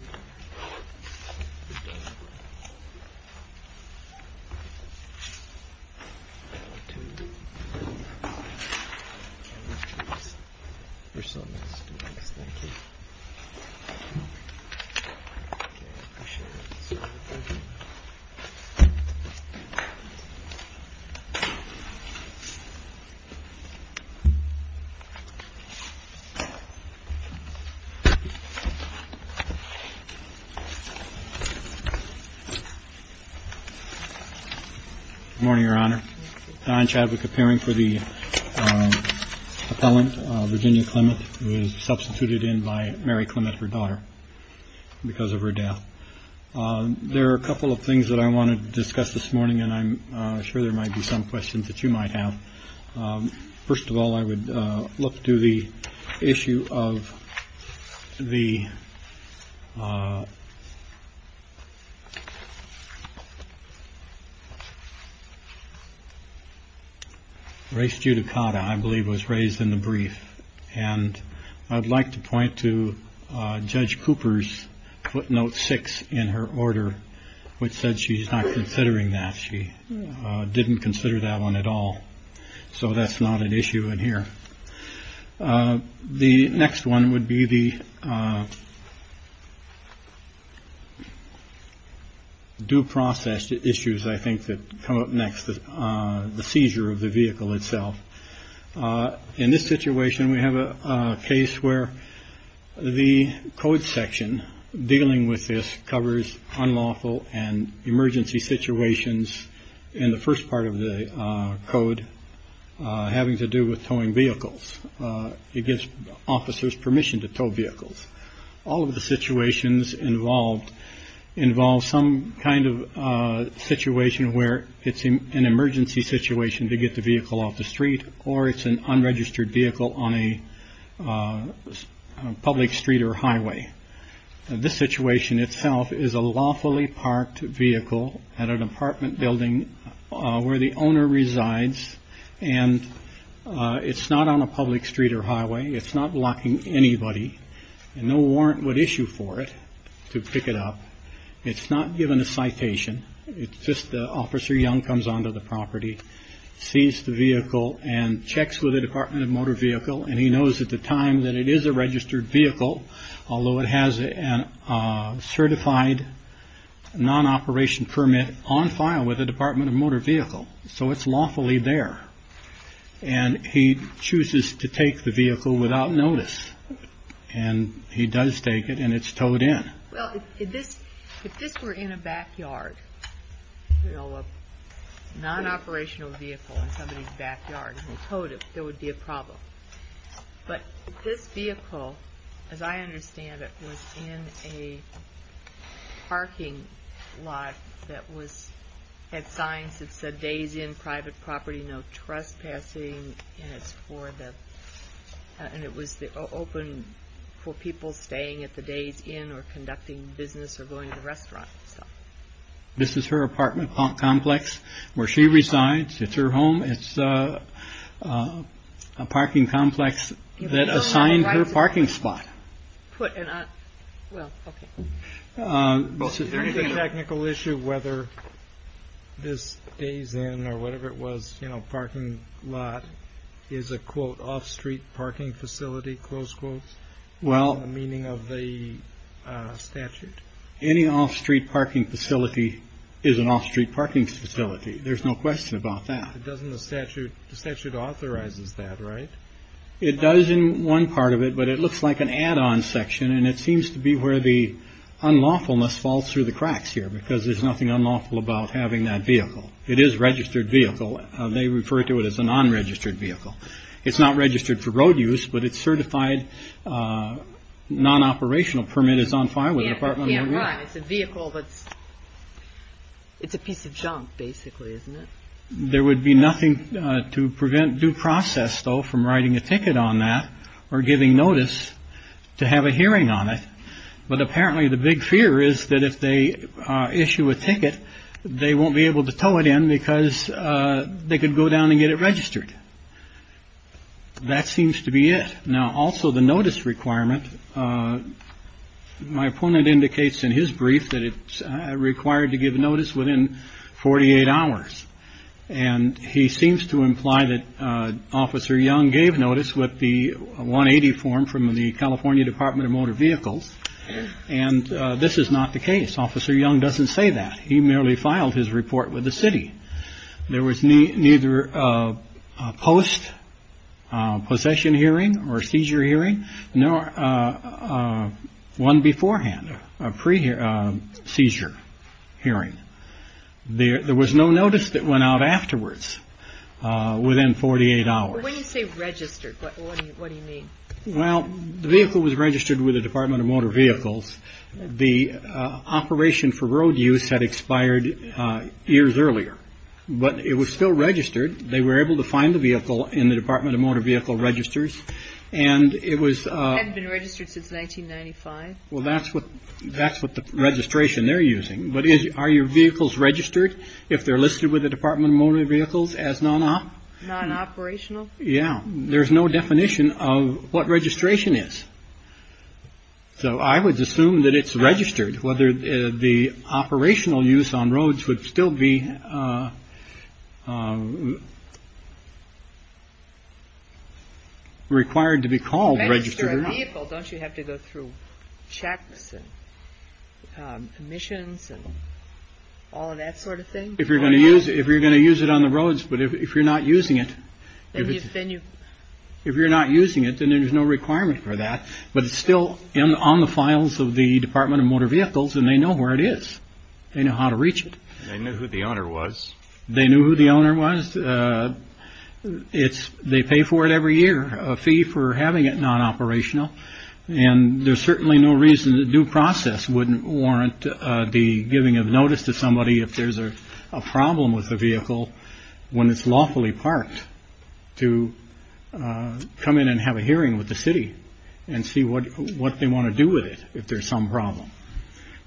CLEMENT v. GLENDALE Good morning, Your Honor. Don Chadwick, appearing for the appellant, Virginia Clement, was substituted in by Mary Clement, her daughter, because of her death. There are a couple of things that I want to discuss this morning, and I'm sure there might be some questions that you might have. First of all, I would look to the issue of the race judicata, I believe was raised in the brief. And I'd like to point to Judge Cooper's footnote six in her order, which said she's not considering that she didn't consider that one at all. So that's not an issue in here. The next one would be the. Due process issues, I think, that come up next, the seizure of the vehicle itself. In this situation, we have a case where the code section dealing with this covers unlawful and emergency situations in the first part of the code having to do with towing vehicles. It gives officers permission to tow vehicles. All of the situations involved involve some kind of situation where it's an emergency situation to get the vehicle off the street or it's an unregistered vehicle on a public street or highway. This situation itself is a lawfully parked vehicle at an apartment building where the owner resides. And it's not on a public street or highway. It's not blocking anybody and no warrant would issue for it to pick it up. It's not given a citation. It's just Officer Young comes onto the property, sees the vehicle and checks with the Department of Motor Vehicle. And he knows at the time that it is a registered vehicle, although it has a certified non-operation permit on file with the Department of Motor Vehicle. So it's lawfully there. And he chooses to take the vehicle without notice. And he does take it and it's towed in. Well, if this were in a backyard, you know, a non-operational vehicle in somebody's backyard and they towed it, there would be a problem. But this vehicle, as I understand it, was in a parking lot that had signs that said days in private property, no trespassing. And it was open for people staying at the days in or conducting business or going to the restaurant. This is her apartment complex where she resides. It's her home. It's a parking complex that assigned her parking spot. Put it on. Well, OK. Well, is there any technical issue whether this days in or whatever it was, you know, parking lot is a quote off street parking facility? Close quotes. Well, meaning of the statute, any off street parking facility is an off street parking facility. There's no question about that. It doesn't the statute. The statute authorizes that. Right. It does in one part of it. But it looks like an add on section. And it seems to be where the unlawfulness falls through the cracks here because there's nothing unlawful about having that vehicle. It is registered vehicle. They refer to it as a non-registered vehicle. It's not registered for road use, but it's certified non-operational. Permit is on fire with the apartment. It's a vehicle that's. It's a piece of junk, basically, isn't it? There would be nothing to prevent due process, though, from writing a ticket on that or giving notice to have a hearing on it. But apparently the big fear is that if they issue a ticket, they won't be able to tow it in because they could go down and get it registered. That seems to be it. Now, also the notice requirement. My opponent indicates in his brief that it's required to give notice within 48 hours. And he seems to imply that Officer Young gave notice with the 180 form from the California Department of Motor Vehicles. And this is not the case. Officer Young doesn't say that. He merely filed his report with the city. There was neither a post possession hearing or seizure hearing, nor one beforehand, a pre-seizure hearing. There was no notice that went out afterwards within 48 hours. When you say registered, what do you mean? Well, the vehicle was registered with the Department of Motor Vehicles. The operation for road use had expired years earlier. But it was still registered. They were able to find the vehicle in the Department of Motor Vehicle registers and it was been registered since 1995. Well, that's what that's what the registration they're using. But are your vehicles registered if they're listed with the Department of Motor Vehicles as non operational? Yeah. There's no definition of what registration is. So I would assume that it's registered, whether the operational use on roads would still be. Required to be called registered. Don't you have to go through checks and commissions and all of that sort of thing? If you're going to use it, if you're going to use it on the roads, but if you're not using it, then you. If you're not using it, then there's no requirement for that. But it's still on the files of the Department of Motor Vehicles and they know where it is. They know how to reach it. They knew who the owner was. They knew who the owner was. It's they pay for it every year, a fee for having it non operational. And there's certainly no reason the due process wouldn't warrant the giving of notice to somebody if there's a problem with the vehicle. When it's lawfully parked to come in and have a hearing with the city and see what what they want to do with it if there's some problem.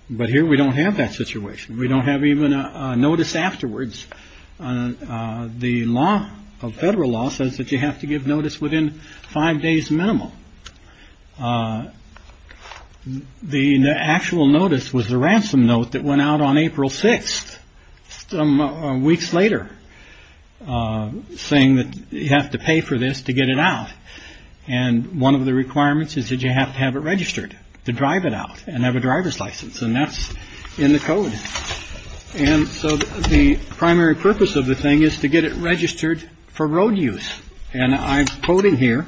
But here we don't have that situation. We don't have even a notice afterwards. The law of federal law says that you have to give notice within five days minimum. The actual notice was the ransom note that went out on April 6th, some weeks later, saying that you have to pay for this to get it out. And one of the requirements is that you have to have it registered to drive it out and have a driver's license. And that's in the code. And so the primary purpose of the thing is to get it registered for road use. And I'm quoting here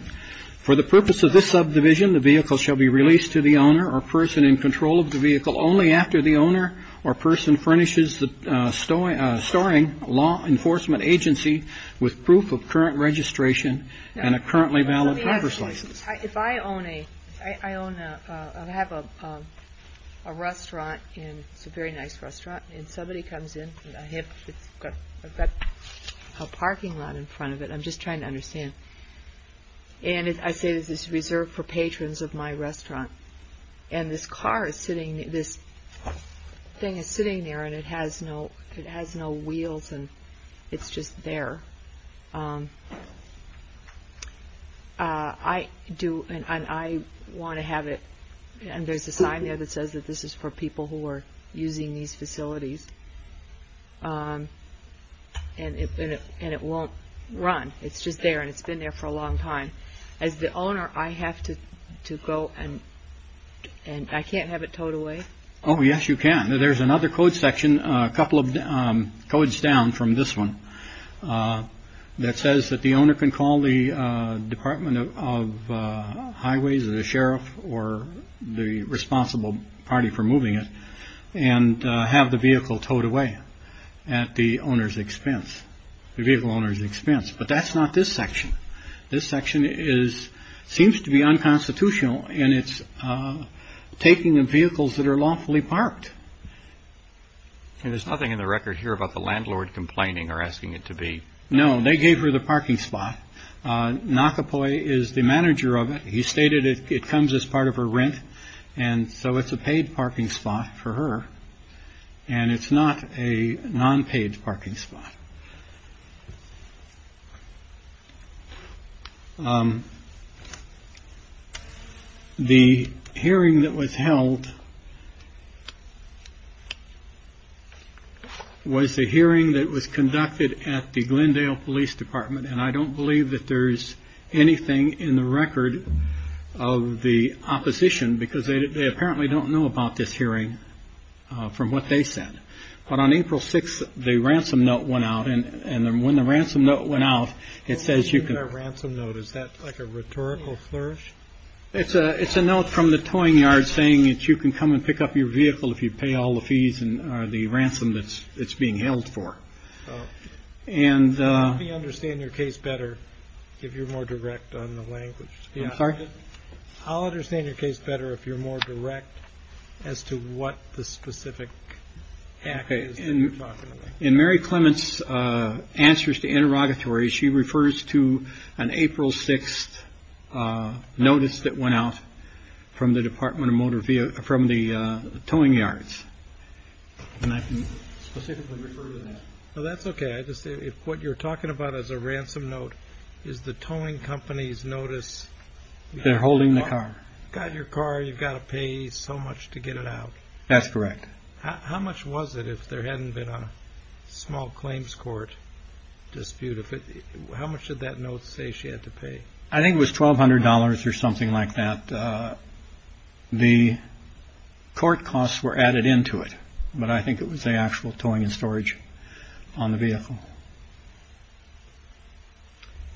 for the purpose of this subdivision. The vehicle shall be released to the owner or person in control of the vehicle only after the owner or person furnishes the story storing law enforcement agency with proof of current registration and a currently valid driver's license. If I own a I own a I have a restaurant and it's a very nice restaurant and somebody comes in a hip. I've got a parking lot in front of it. I'm just trying to understand. And I say this is reserved for patrons of my restaurant. And this car is sitting this thing is sitting there and it has no it has no wheels and it's just there. I do and I want to have it and there's a sign there that says that this is for people who are using these facilities. And it and it won't run. It's just there and it's been there for a long time as the owner. I have to go and I can't have it towed away. Oh yes you can. There's another code section a couple of codes down from this one that says that the owner can call the Department of Highways or the sheriff or the responsible party for towed away at the owner's expense. The vehicle owner's expense. But that's not this section. This section is seems to be unconstitutional and it's taking the vehicles that are lawfully parked. There's nothing in the record here about the landlord complaining or asking it to be. No they gave her the parking spot. Nakapoi is the manager of it. He stated it comes as part of her rent. And so it's a paid parking spot for her. And it's not a non-paid parking spot. The hearing that was held was a hearing that was conducted at the Glendale Police Department. And I don't believe that there's anything in the record of the opposition because they apparently don't know about this hearing. From what they said. But on April 6 the ransom note went out and then when the ransom note went out it says you can get a ransom note. Is that like a rhetorical flourish. It's a it's a note from the towing yard saying that you can come and pick up your vehicle if you pay all the fees and the ransom that's being held for. And we understand your case better. If you're more direct on the language. Yeah I'm sorry. I'll understand your case better if you're more direct as to what the specific. In Mary Clements answers to interrogatory she refers to an April 6th notice that went out from the Department of Motor Vehicle from the towing yards. And I can specifically refer to that. Well that's OK. I just say if what you're talking about is a ransom note is the towing companies notice they're holding the car got your car you've got to pay so much to get it out. That's correct. How much was it if there hadn't been a small claims court dispute. How much did that note say she had to pay. I think it was twelve hundred dollars or something like that. And the court costs were added into it. But I think it was the actual towing and storage on the vehicle.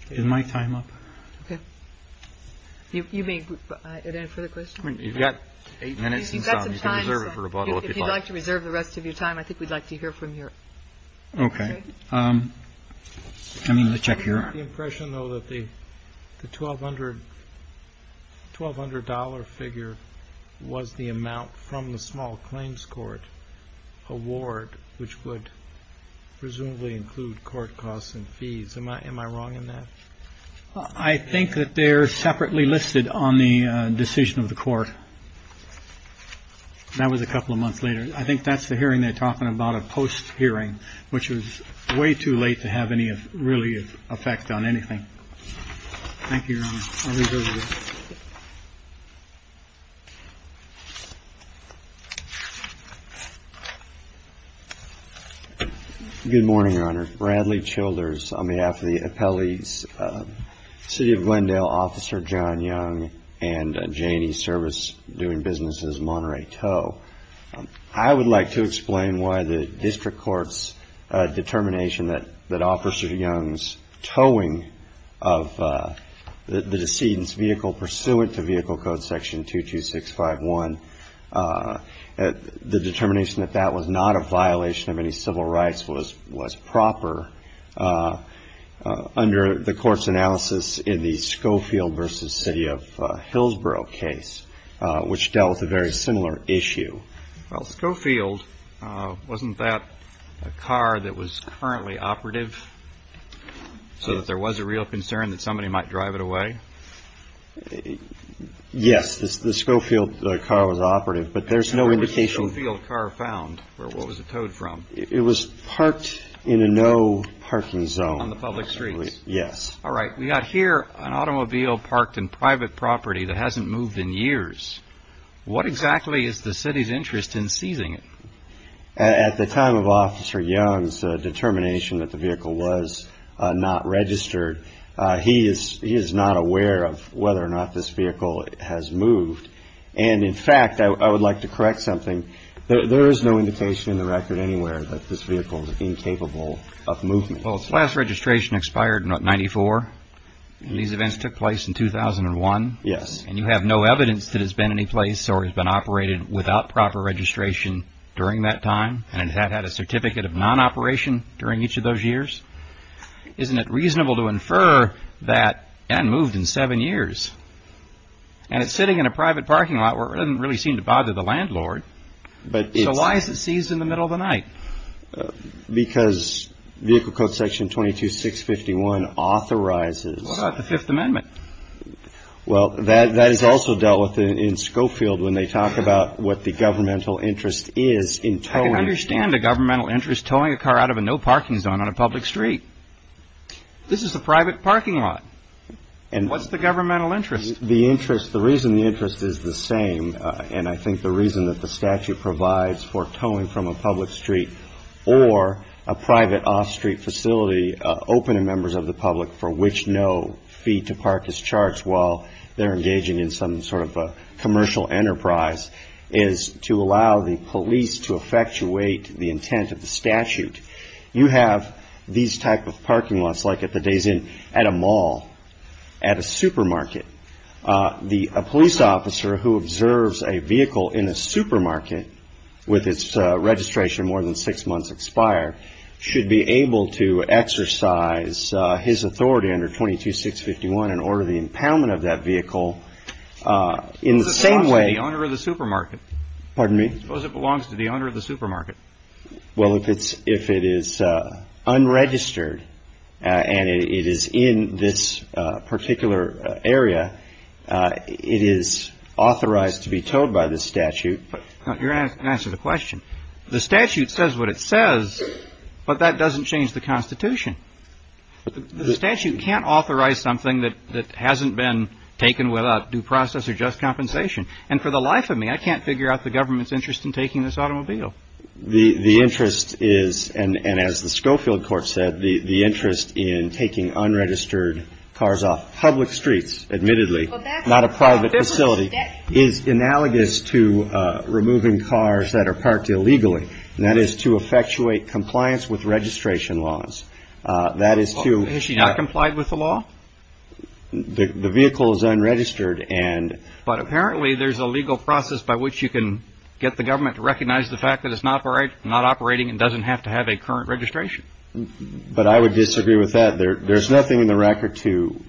In my time up. You mean it for the question. You've got eight minutes and you can reserve it for a bottle if you'd like to reserve the rest of your time. I think we'd like to hear from you. OK. I mean the check here. The impression though that the twelve hundred twelve hundred dollar figure was the amount from the small claims court award which would presumably include court costs and fees. Am I wrong in that. I think that they're separately listed on the decision of the court. That was a couple of months later. I think that's the hearing they're talking about a post hearing which was way too late to have any really effect on anything. Thank you. Good morning Your Honor. Bradley Childers on behalf of the appellees. City of Glendale officer John Young and Janie service doing businesses Monterey Toe. I would like to explain why the district court's determination that that officer Young's towing of the decedent's vehicle pursuant to Vehicle Code Section 2 2 6 5 1. The determination that that was not a violation of any civil rights was was proper. Under the court's analysis in the Schofield versus city of Hillsborough case which dealt with a very similar issue. Well Schofield wasn't that a car that was currently operative so that there was a real concern that somebody might drive it away. Yes the Schofield car was operative but there's no indication field car found where what was it towed from. It was parked in a no parking zone on the public streets. Yes. All right. We got here an automobile parked in private property that hasn't moved in years. What exactly is the city's interest in seizing it at the time of officer Young's determination that the vehicle was not registered. He is he is not aware of whether or not this vehicle has moved. And in fact I would like to correct something. There is no indication in the record anywhere that this vehicle is incapable of movement. Well its last registration expired in 1994. These events took place in 2001. Yes. And you have no evidence that has been any place or has been operated without proper registration during that time and had had a certificate of non operation during each of those years. Isn't it reasonable to infer that and moved in seven years. And it's sitting in a private parking lot where it doesn't really seem to bother the landlord. But why is it seized in the middle of the night. Because vehicle code section 22 651 authorizes the Fifth Amendment. Well that that is also dealt with in Schofield when they talk about what the governmental interest is in trying to understand the governmental interest towing a car out of a no parking zone on a public street. This is a private parking lot. And what's the governmental interest. The interest the reason the interest is the same. And I think the reason that the statute provides for towing from a public street or a private off street facility open to members of the public for which no fee to park is charged while they're engaging in some sort of a commercial enterprise is to allow the police to effectuate the intent of the statute. You have these type of parking lots like at the Days Inn at a mall at a supermarket. The police officer who observes a vehicle in a supermarket with its registration more than six months expire should be able to exercise his authority under 22 651 and order the impoundment of that vehicle in the same way. Owner of the supermarket. Pardon me. Suppose it belongs to the owner of the supermarket. Well if it's if it is unregistered and it is in this particular area it is authorized to be towed by the statute. Your answer the question. The statute says what it says but that doesn't change the Constitution. The statute can't authorize something that hasn't been taken without due process or just compensation. And for the life of me I can't figure out the government's interest in taking this automobile. The interest is and as the Schofield court said the interest in taking unregistered cars off public streets admittedly not a private facility is analogous to removing cars that are parked illegally. That is to effectuate compliance with registration laws. That is to issue not complied with the law. The vehicle is unregistered. And but apparently there's a legal process by which you can get the government to recognize the fact that it's not right not operating and doesn't have to have a current registration. But I would disagree with that. There's nothing in the record to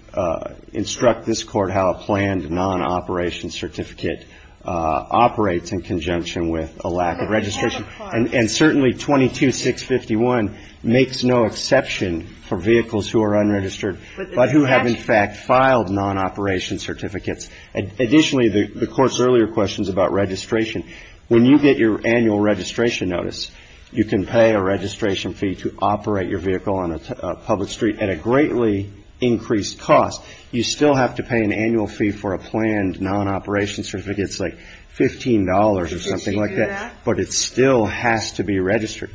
instruct this court how a planned non operation certificate operates in conjunction with a lack of registration. And certainly 22 651 makes no exception for vehicles who are unregistered but who have in fact filed non operation certificates. Additionally the court's earlier questions about registration when you get your annual registration notice you can pay a registration fee to operate your vehicle on a public street at a greatly increased cost. You still have to pay an annual fee for a planned non operation certificates like 15 dollars or something like that. But it still has to be registered.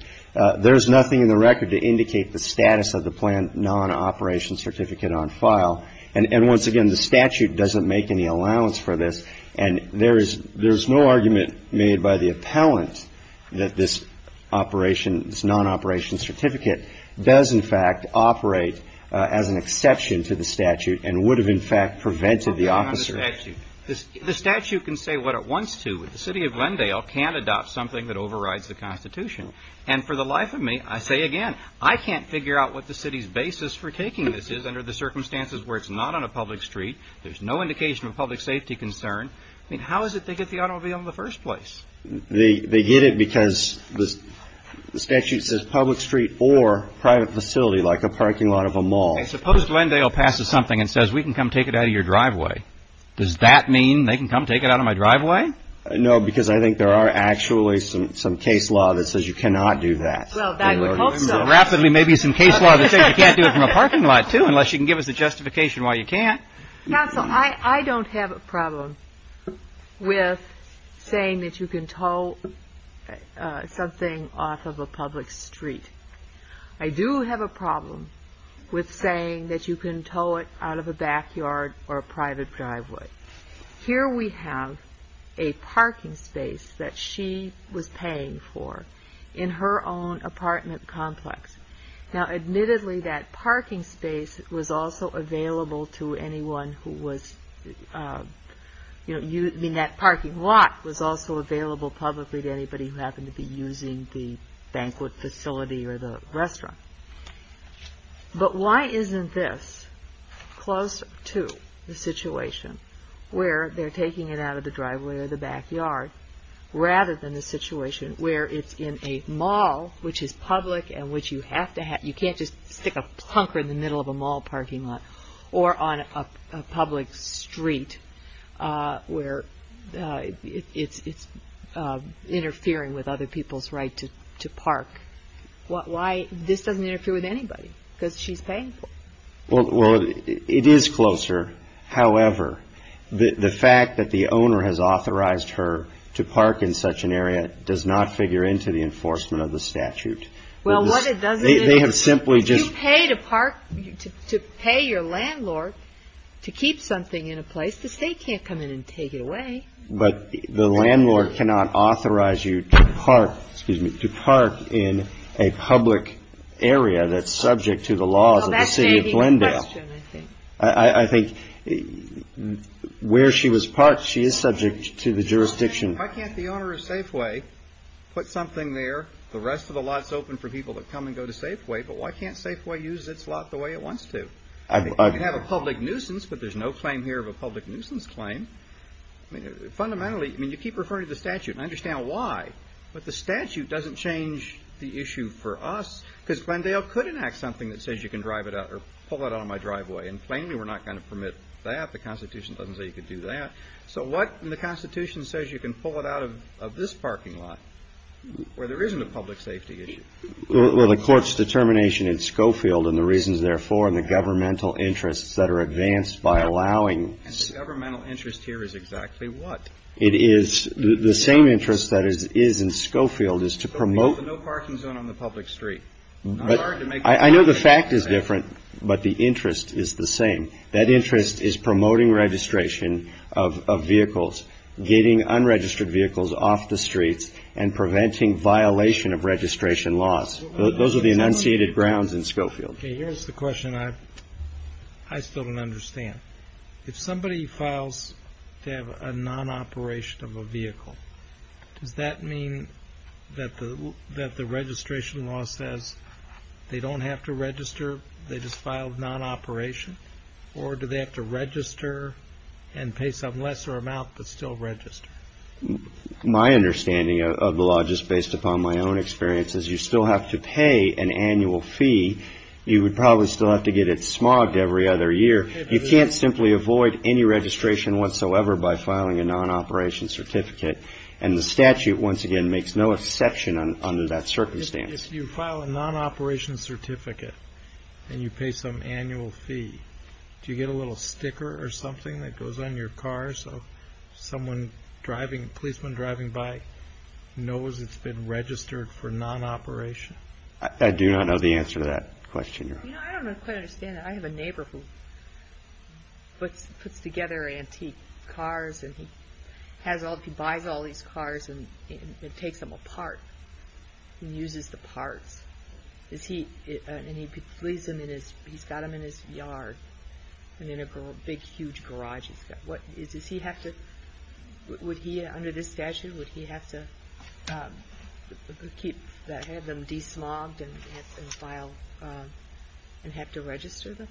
There is nothing in the record to indicate the status of the planned non operation certificate on file. And once again the statute doesn't make any allowance for this. And there is there's no argument made by the appellant that this operation is non operation certificate does in fact operate as an exception to the statute and would have in fact prevented the officer. The statute can say what it wants to with the city of Glendale can't adopt something that overrides the Constitution. And for the life of me I say again I can't figure out what the city's basis for taking this is under the circumstances where it's not on a public street. There's no indication of public safety concern. I mean how is it they get the automobile in the first place. They get it because the statute says public street or private facility like a parking lot of a mall. Suppose Glendale passes something and says we can come take it out of your driveway. Does that mean they can come take it out of my driveway. No because I think there are actually some some case law that says you cannot do that. Rapidly maybe some case law that you can't do it in a parking lot too unless you can give us a justification why you can't. I don't have a problem with saying that you can tow something off of a public street. I do have a problem with saying that you can tow it out of a backyard or a private driveway. Here we have a parking space that she was paying for in her own apartment complex. Now admittedly that parking space was also available to anyone who was you know you mean that parking lot was also available publicly to anybody who happened to be using the banquet facility or the restaurant. But why isn't this close to the situation where they're taking it out of the driveway or the backyard rather than the situation where it's in a mall which is public and which you have to have you can't just stick a plunker in the middle of a mall parking lot or on a public street where it's interfering with other people's right to park. What why this doesn't interfere with anybody because she's paying for it is closer. However the fact that the owner has authorized her to park in such an area does not figure into the enforcement of the statute. Well what it does is they have simply just paid a part to pay your landlord to keep something in a place the state can't come in and take it away. But the landlord cannot authorize you to park excuse me to park in a public area that's subject to the laws of the city of Glendale. I think where she was parked she is subject to the jurisdiction. Why can't the owner of Safeway put something there the rest of the lots open for people to come and go to Safeway. But why can't Safeway use its lot the way it wants to have a public nuisance. But there's no claim here of a public nuisance claim. I mean fundamentally I mean you keep referring to the statute and I understand why but the statute doesn't change the issue for us because Glendale could enact something that says you can drive it out or pull it out of my driveway and plainly we're not going to permit that. The Constitution doesn't say you could do that. So what the Constitution says you can pull it out of this parking lot where there isn't a public safety issue where the court's determination in Schofield and the reasons therefore in the governmental interests that are advanced by allowing governmental interest here is exactly what it is the same interest that is is in Schofield is to promote no parking zone on the public street. I know the fact is different but the interest is the same. That interest is promoting registration of vehicles getting unregistered vehicles off the streets and preventing violation of registration laws. Those are the enunciated grounds in Schofield. Here's the question I still don't understand. If somebody files to have a non-operation of a vehicle does that mean that the that the registration law says they don't have to register. They just filed non-operation or do they have to register and pay some lesser amount but still register. My understanding of the law just based upon my own experience is you still have to pay an annual fee. You would probably still have to get it smogged every other year. You can't simply avoid any registration whatsoever by filing a non-operation certificate. And the statute once again makes no exception under that circumstance. If you file a non-operation certificate and you pay some annual fee do you get a little sticker or something that goes on your car. So someone driving a policeman driving by knows it's been registered for non-operation. I do not know the answer to that question. I don't quite understand. I have a neighbor who puts together antique cars and he has all he buys all these cars and it takes them apart and uses the parts. Is he and he leaves him in his he's got him in his yard and in a big huge garage. What does he have to. Would he under this statute would he have to keep them desmogged and file and have to register them.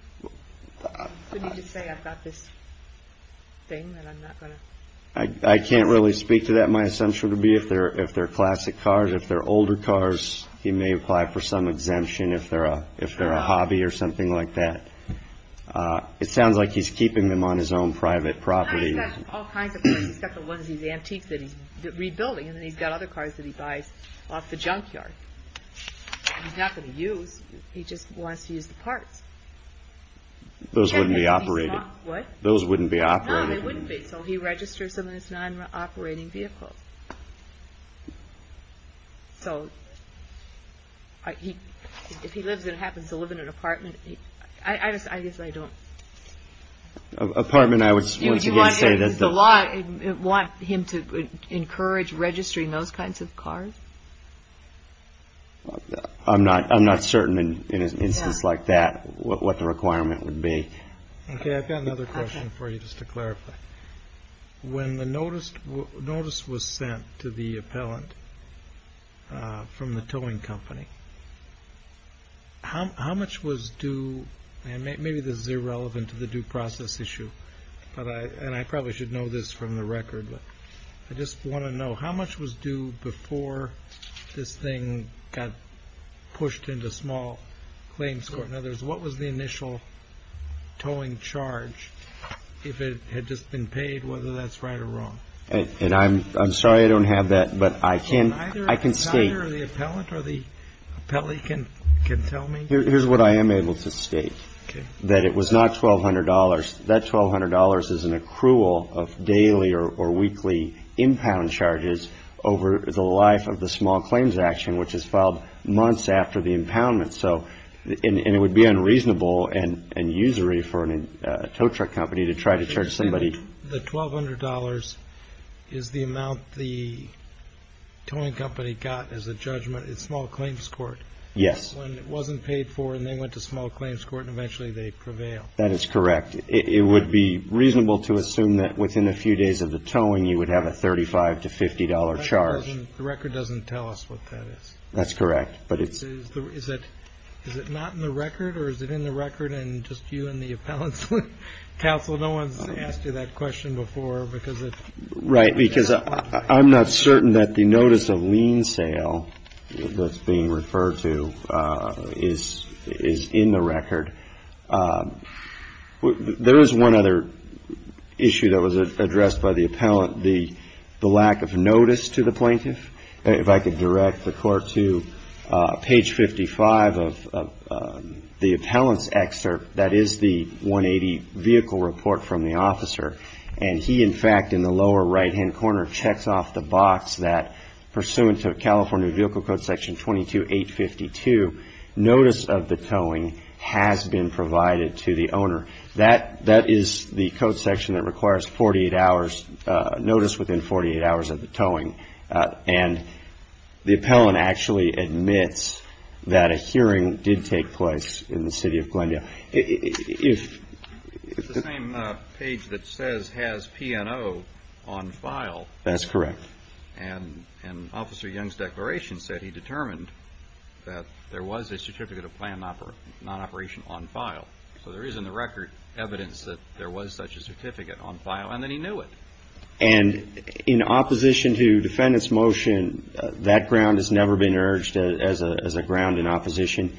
Could you just say I've got this thing that I'm not going to. I can't really speak to that. My assumption would be if they're if they're classic cars if they're older cars he may apply for some exemption if they're a if they're a hobby or something like that. It sounds like he's keeping them on his own private property. He's got all kinds of cars he's got the ones he's antique that he's rebuilding and then he's got other cars that he buys off the junkyard. He's not going to use. He just wants to use the parts. Those wouldn't be operated. What those wouldn't be operating. They wouldn't be. So he registers them in his non-operating vehicle. So if he lives in happens to live in an apartment I guess I don't apartment. I would say that the law want him to encourage registering those kinds of cars. I'm not I'm not certain in an instance like that what the requirement would be. Okay I've got another question for you. Just to clarify when the notice notice was sent to the appellant from the towing company. How much was due and maybe this is irrelevant to the due process issue but I and I probably should know this from the record but I just want to know how much was due before this thing got pushed into small claims court. What was the initial towing charge if it had just been paid whether that's right or wrong. And I'm I'm sorry I don't have that but I can I can see the appellant or the appellee can can tell me here's what I am able to state that it was not twelve hundred dollars that twelve hundred dollars is an accrual of daily or weekly impound charges over the life of the small claims action which is filed months after the impoundment. So it would be unreasonable and usury for a tow truck company to try to charge somebody the twelve hundred dollars is the amount the towing company got as a judgment in small claims court. Yes it wasn't paid for and they went to small claims court and eventually they prevail. That is correct. It would be reasonable to assume that within a few days of the towing you would have a thirty five to fifty dollar charge. The record doesn't tell us what that is. That's correct. But it is that is it not in the record or is it in the record and just you and the appellants counsel no one's asked you that question before because it's right. Because I'm not certain that the notice of lien sale that's being referred to is is in the record. There is one other issue that was addressed by the appellant. The the lack of notice to the plaintiff if I could direct the court to page 55 of the appellant's excerpt that is the 180 vehicle report from the officer. And he in fact in the lower right hand corner checks off the box that pursuant to California Vehicle Code Section 22 852 notice of the towing has been provided to the owner. That that is the code section that requires 48 hours notice within 48 hours of the towing. And the appellant actually admits that a hearing did take place in the city of Glendale. If it's the same page that says has P&O on file. That's correct. And an officer Young's declaration said he determined that there was a certificate of plan not operation on file. So there is in the record evidence that there was such a certificate on file and then he knew it. And in opposition to defendants motion that ground has never been urged as a ground in opposition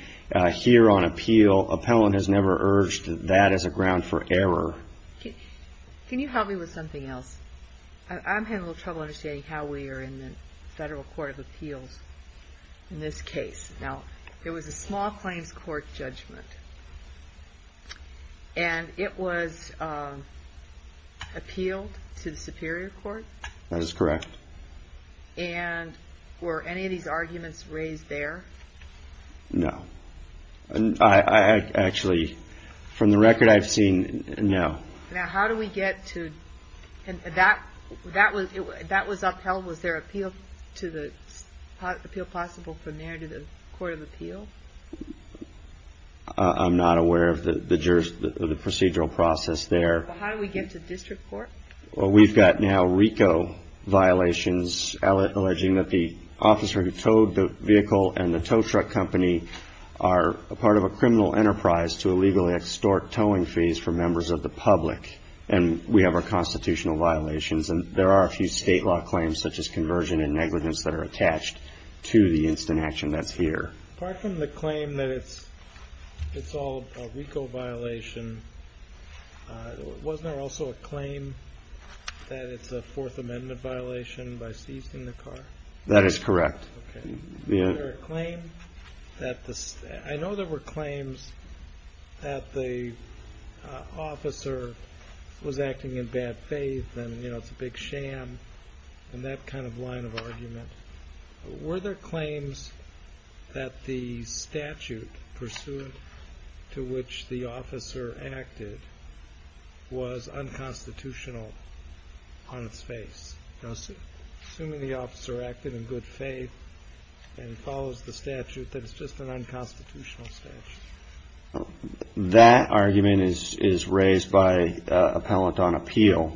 here on appeal. Appellant has never urged that as a ground for error. Can you help me with something else? I'm having a little trouble understanding how we are in the federal court of appeals in this case. Now there was a small claims court judgment. And it was appealed to the Superior Court. That is correct. And were any of these arguments raised there? No. I actually from the record I've seen no. Now how do we get to that? That was that was upheld. Was there appeal to the appeal possible from there to the Court of Appeal? I'm not aware of the procedural process there. How do we get to district court? Well we've got now RICO violations alleging that the officer who towed the vehicle and the tow truck company are a part of a criminal enterprise to illegally extort towing fees for members of the public. And we have our constitutional violations and there are a few state law claims such as conversion and negligence that are attached to the instant action that's here. Apart from the claim that it's it's all a RICO violation. Wasn't there also a claim that it's a Fourth Amendment violation by seizing the car? That is correct. The claim that I know there were claims that the officer was acting in bad faith and you know it's a big sham and that kind of line of argument. Were there claims that the statute pursuant to which the officer acted was unconstitutional on its face? No sir. Assuming the officer acted in good faith and follows the statute that it's just an unconstitutional statute. That argument is raised by appellant on appeal.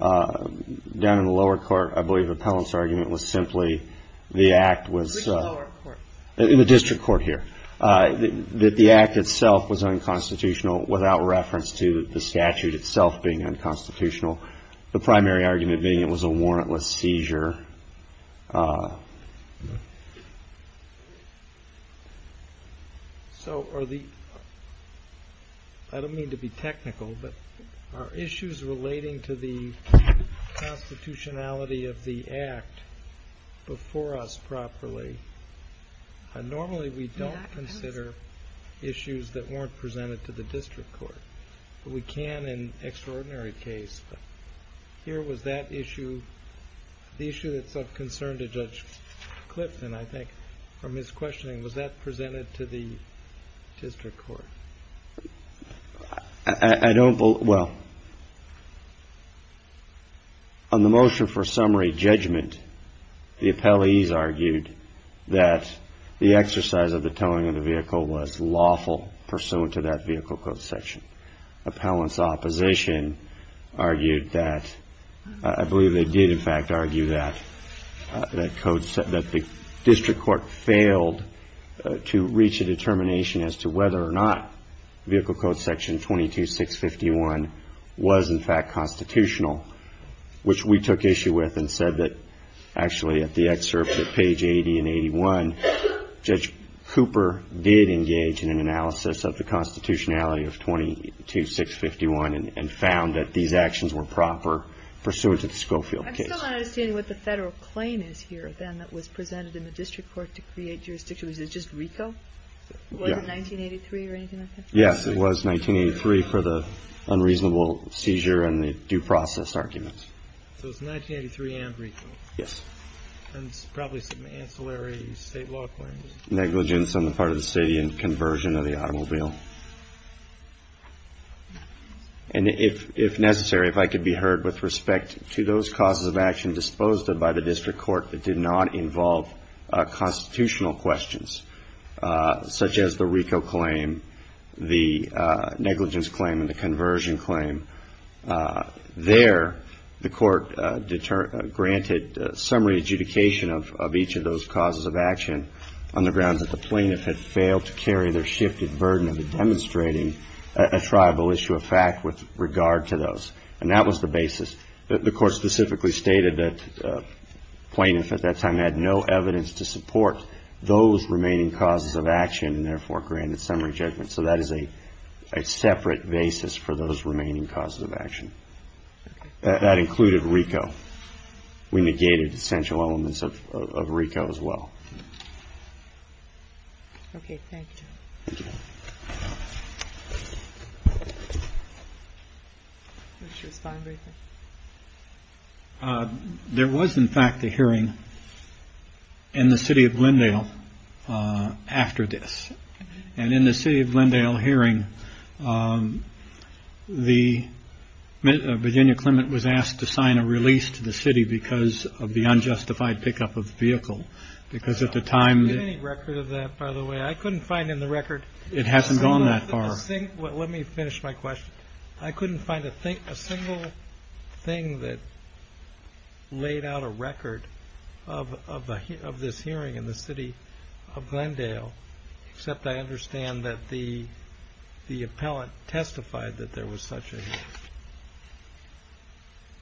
Down in the lower court I believe the appellant's argument was simply the act was in the district court here that the act itself was unconstitutional without reference to the statute itself being unconstitutional. The primary argument being it was a warrantless seizure. So are the I don't mean to be technical but are issues relating to the constitutionality of the act before us properly and normally we don't consider issues that weren't presented to the district court but we can in extraordinary case but here was that issue. The issue that's of concern to Judge Clifton I think from his questioning was that presented to the district court. I don't believe well on the motion for summary judgment the appellees argued that the exercise of the towing of the vehicle was lawful pursuant to that vehicle code section. Appellant's opposition argued that I believe they did in fact argue that that code said that the district court failed to reach a determination as to whether or not vehicle code section 22651 was in fact constitutional which we took issue with and said that actually at the excerpt at page 80 and 81 Judge Cooper did engage in an analysis of the constitutionality of 20 2651 and found that these actions were proper pursuant to the Schofield case. I'm still not understanding what the federal claim is here then that was presented in the district court to create jurisdiction. Was it just RICO? Was it 1983 or anything like that? Yes it was 1983 for the unreasonable seizure and the due process arguments. So it's 1983 and RICO? Yes. And it's probably some ancillary state law claims? Negligence on the part of the state in conversion of the automobile. And if necessary if I could be heard with respect to those causes of action disposed of by the district court that did not involve constitutional questions such as the RICO claim, the negligence claim and the conversion claim. There the court granted summary adjudication of each of those causes of action on the grounds that the plaintiff had failed to carry their shifted burden of demonstrating a tribal issue of fact with regard to those. And that was the basis. The court specifically stated that plaintiff at that time had no evidence to support those remaining causes of action and therefore granted summary judgment. So that is a separate basis for those remaining causes of action. That included RICO. We negated essential elements of RICO as well. Okay thank you. There was in fact a hearing in the city of Glendale after this. And in the city of Glendale hearing the Virginia Clement was asked to sign a release to the city because of the unjustified pickup of the vehicle. Because at the time the record of that by the way I couldn't find in the record. It hasn't gone that far. Let me finish my question. I couldn't find a single thing that laid out a record of this hearing in the city of Glendale. Except I understand that the the appellant testified that there was such a.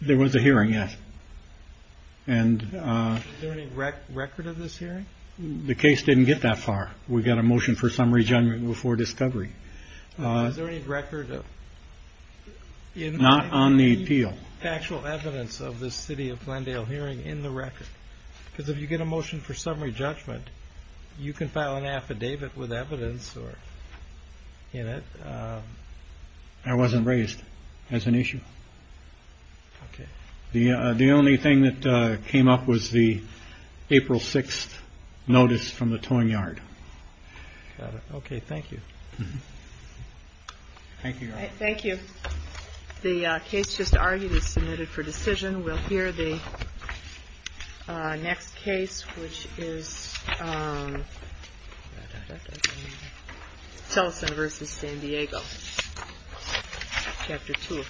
There was a hearing yes. And the record of this hearing the case didn't get that far. We've got a motion for summary judgment before discovery. Is there any record. Not on the appeal actual evidence of the city of Glendale hearing in the record because if you get a motion for summary judgment. You can file an affidavit with evidence or in it. I wasn't raised as an issue. The only thing that came up was the April 6th notice from the towing yard. Okay thank you. Thank you. Thank you. The case just argued is submitted for decision. We'll hear the next case which is. Tell us a versus San Diego. Chapter two.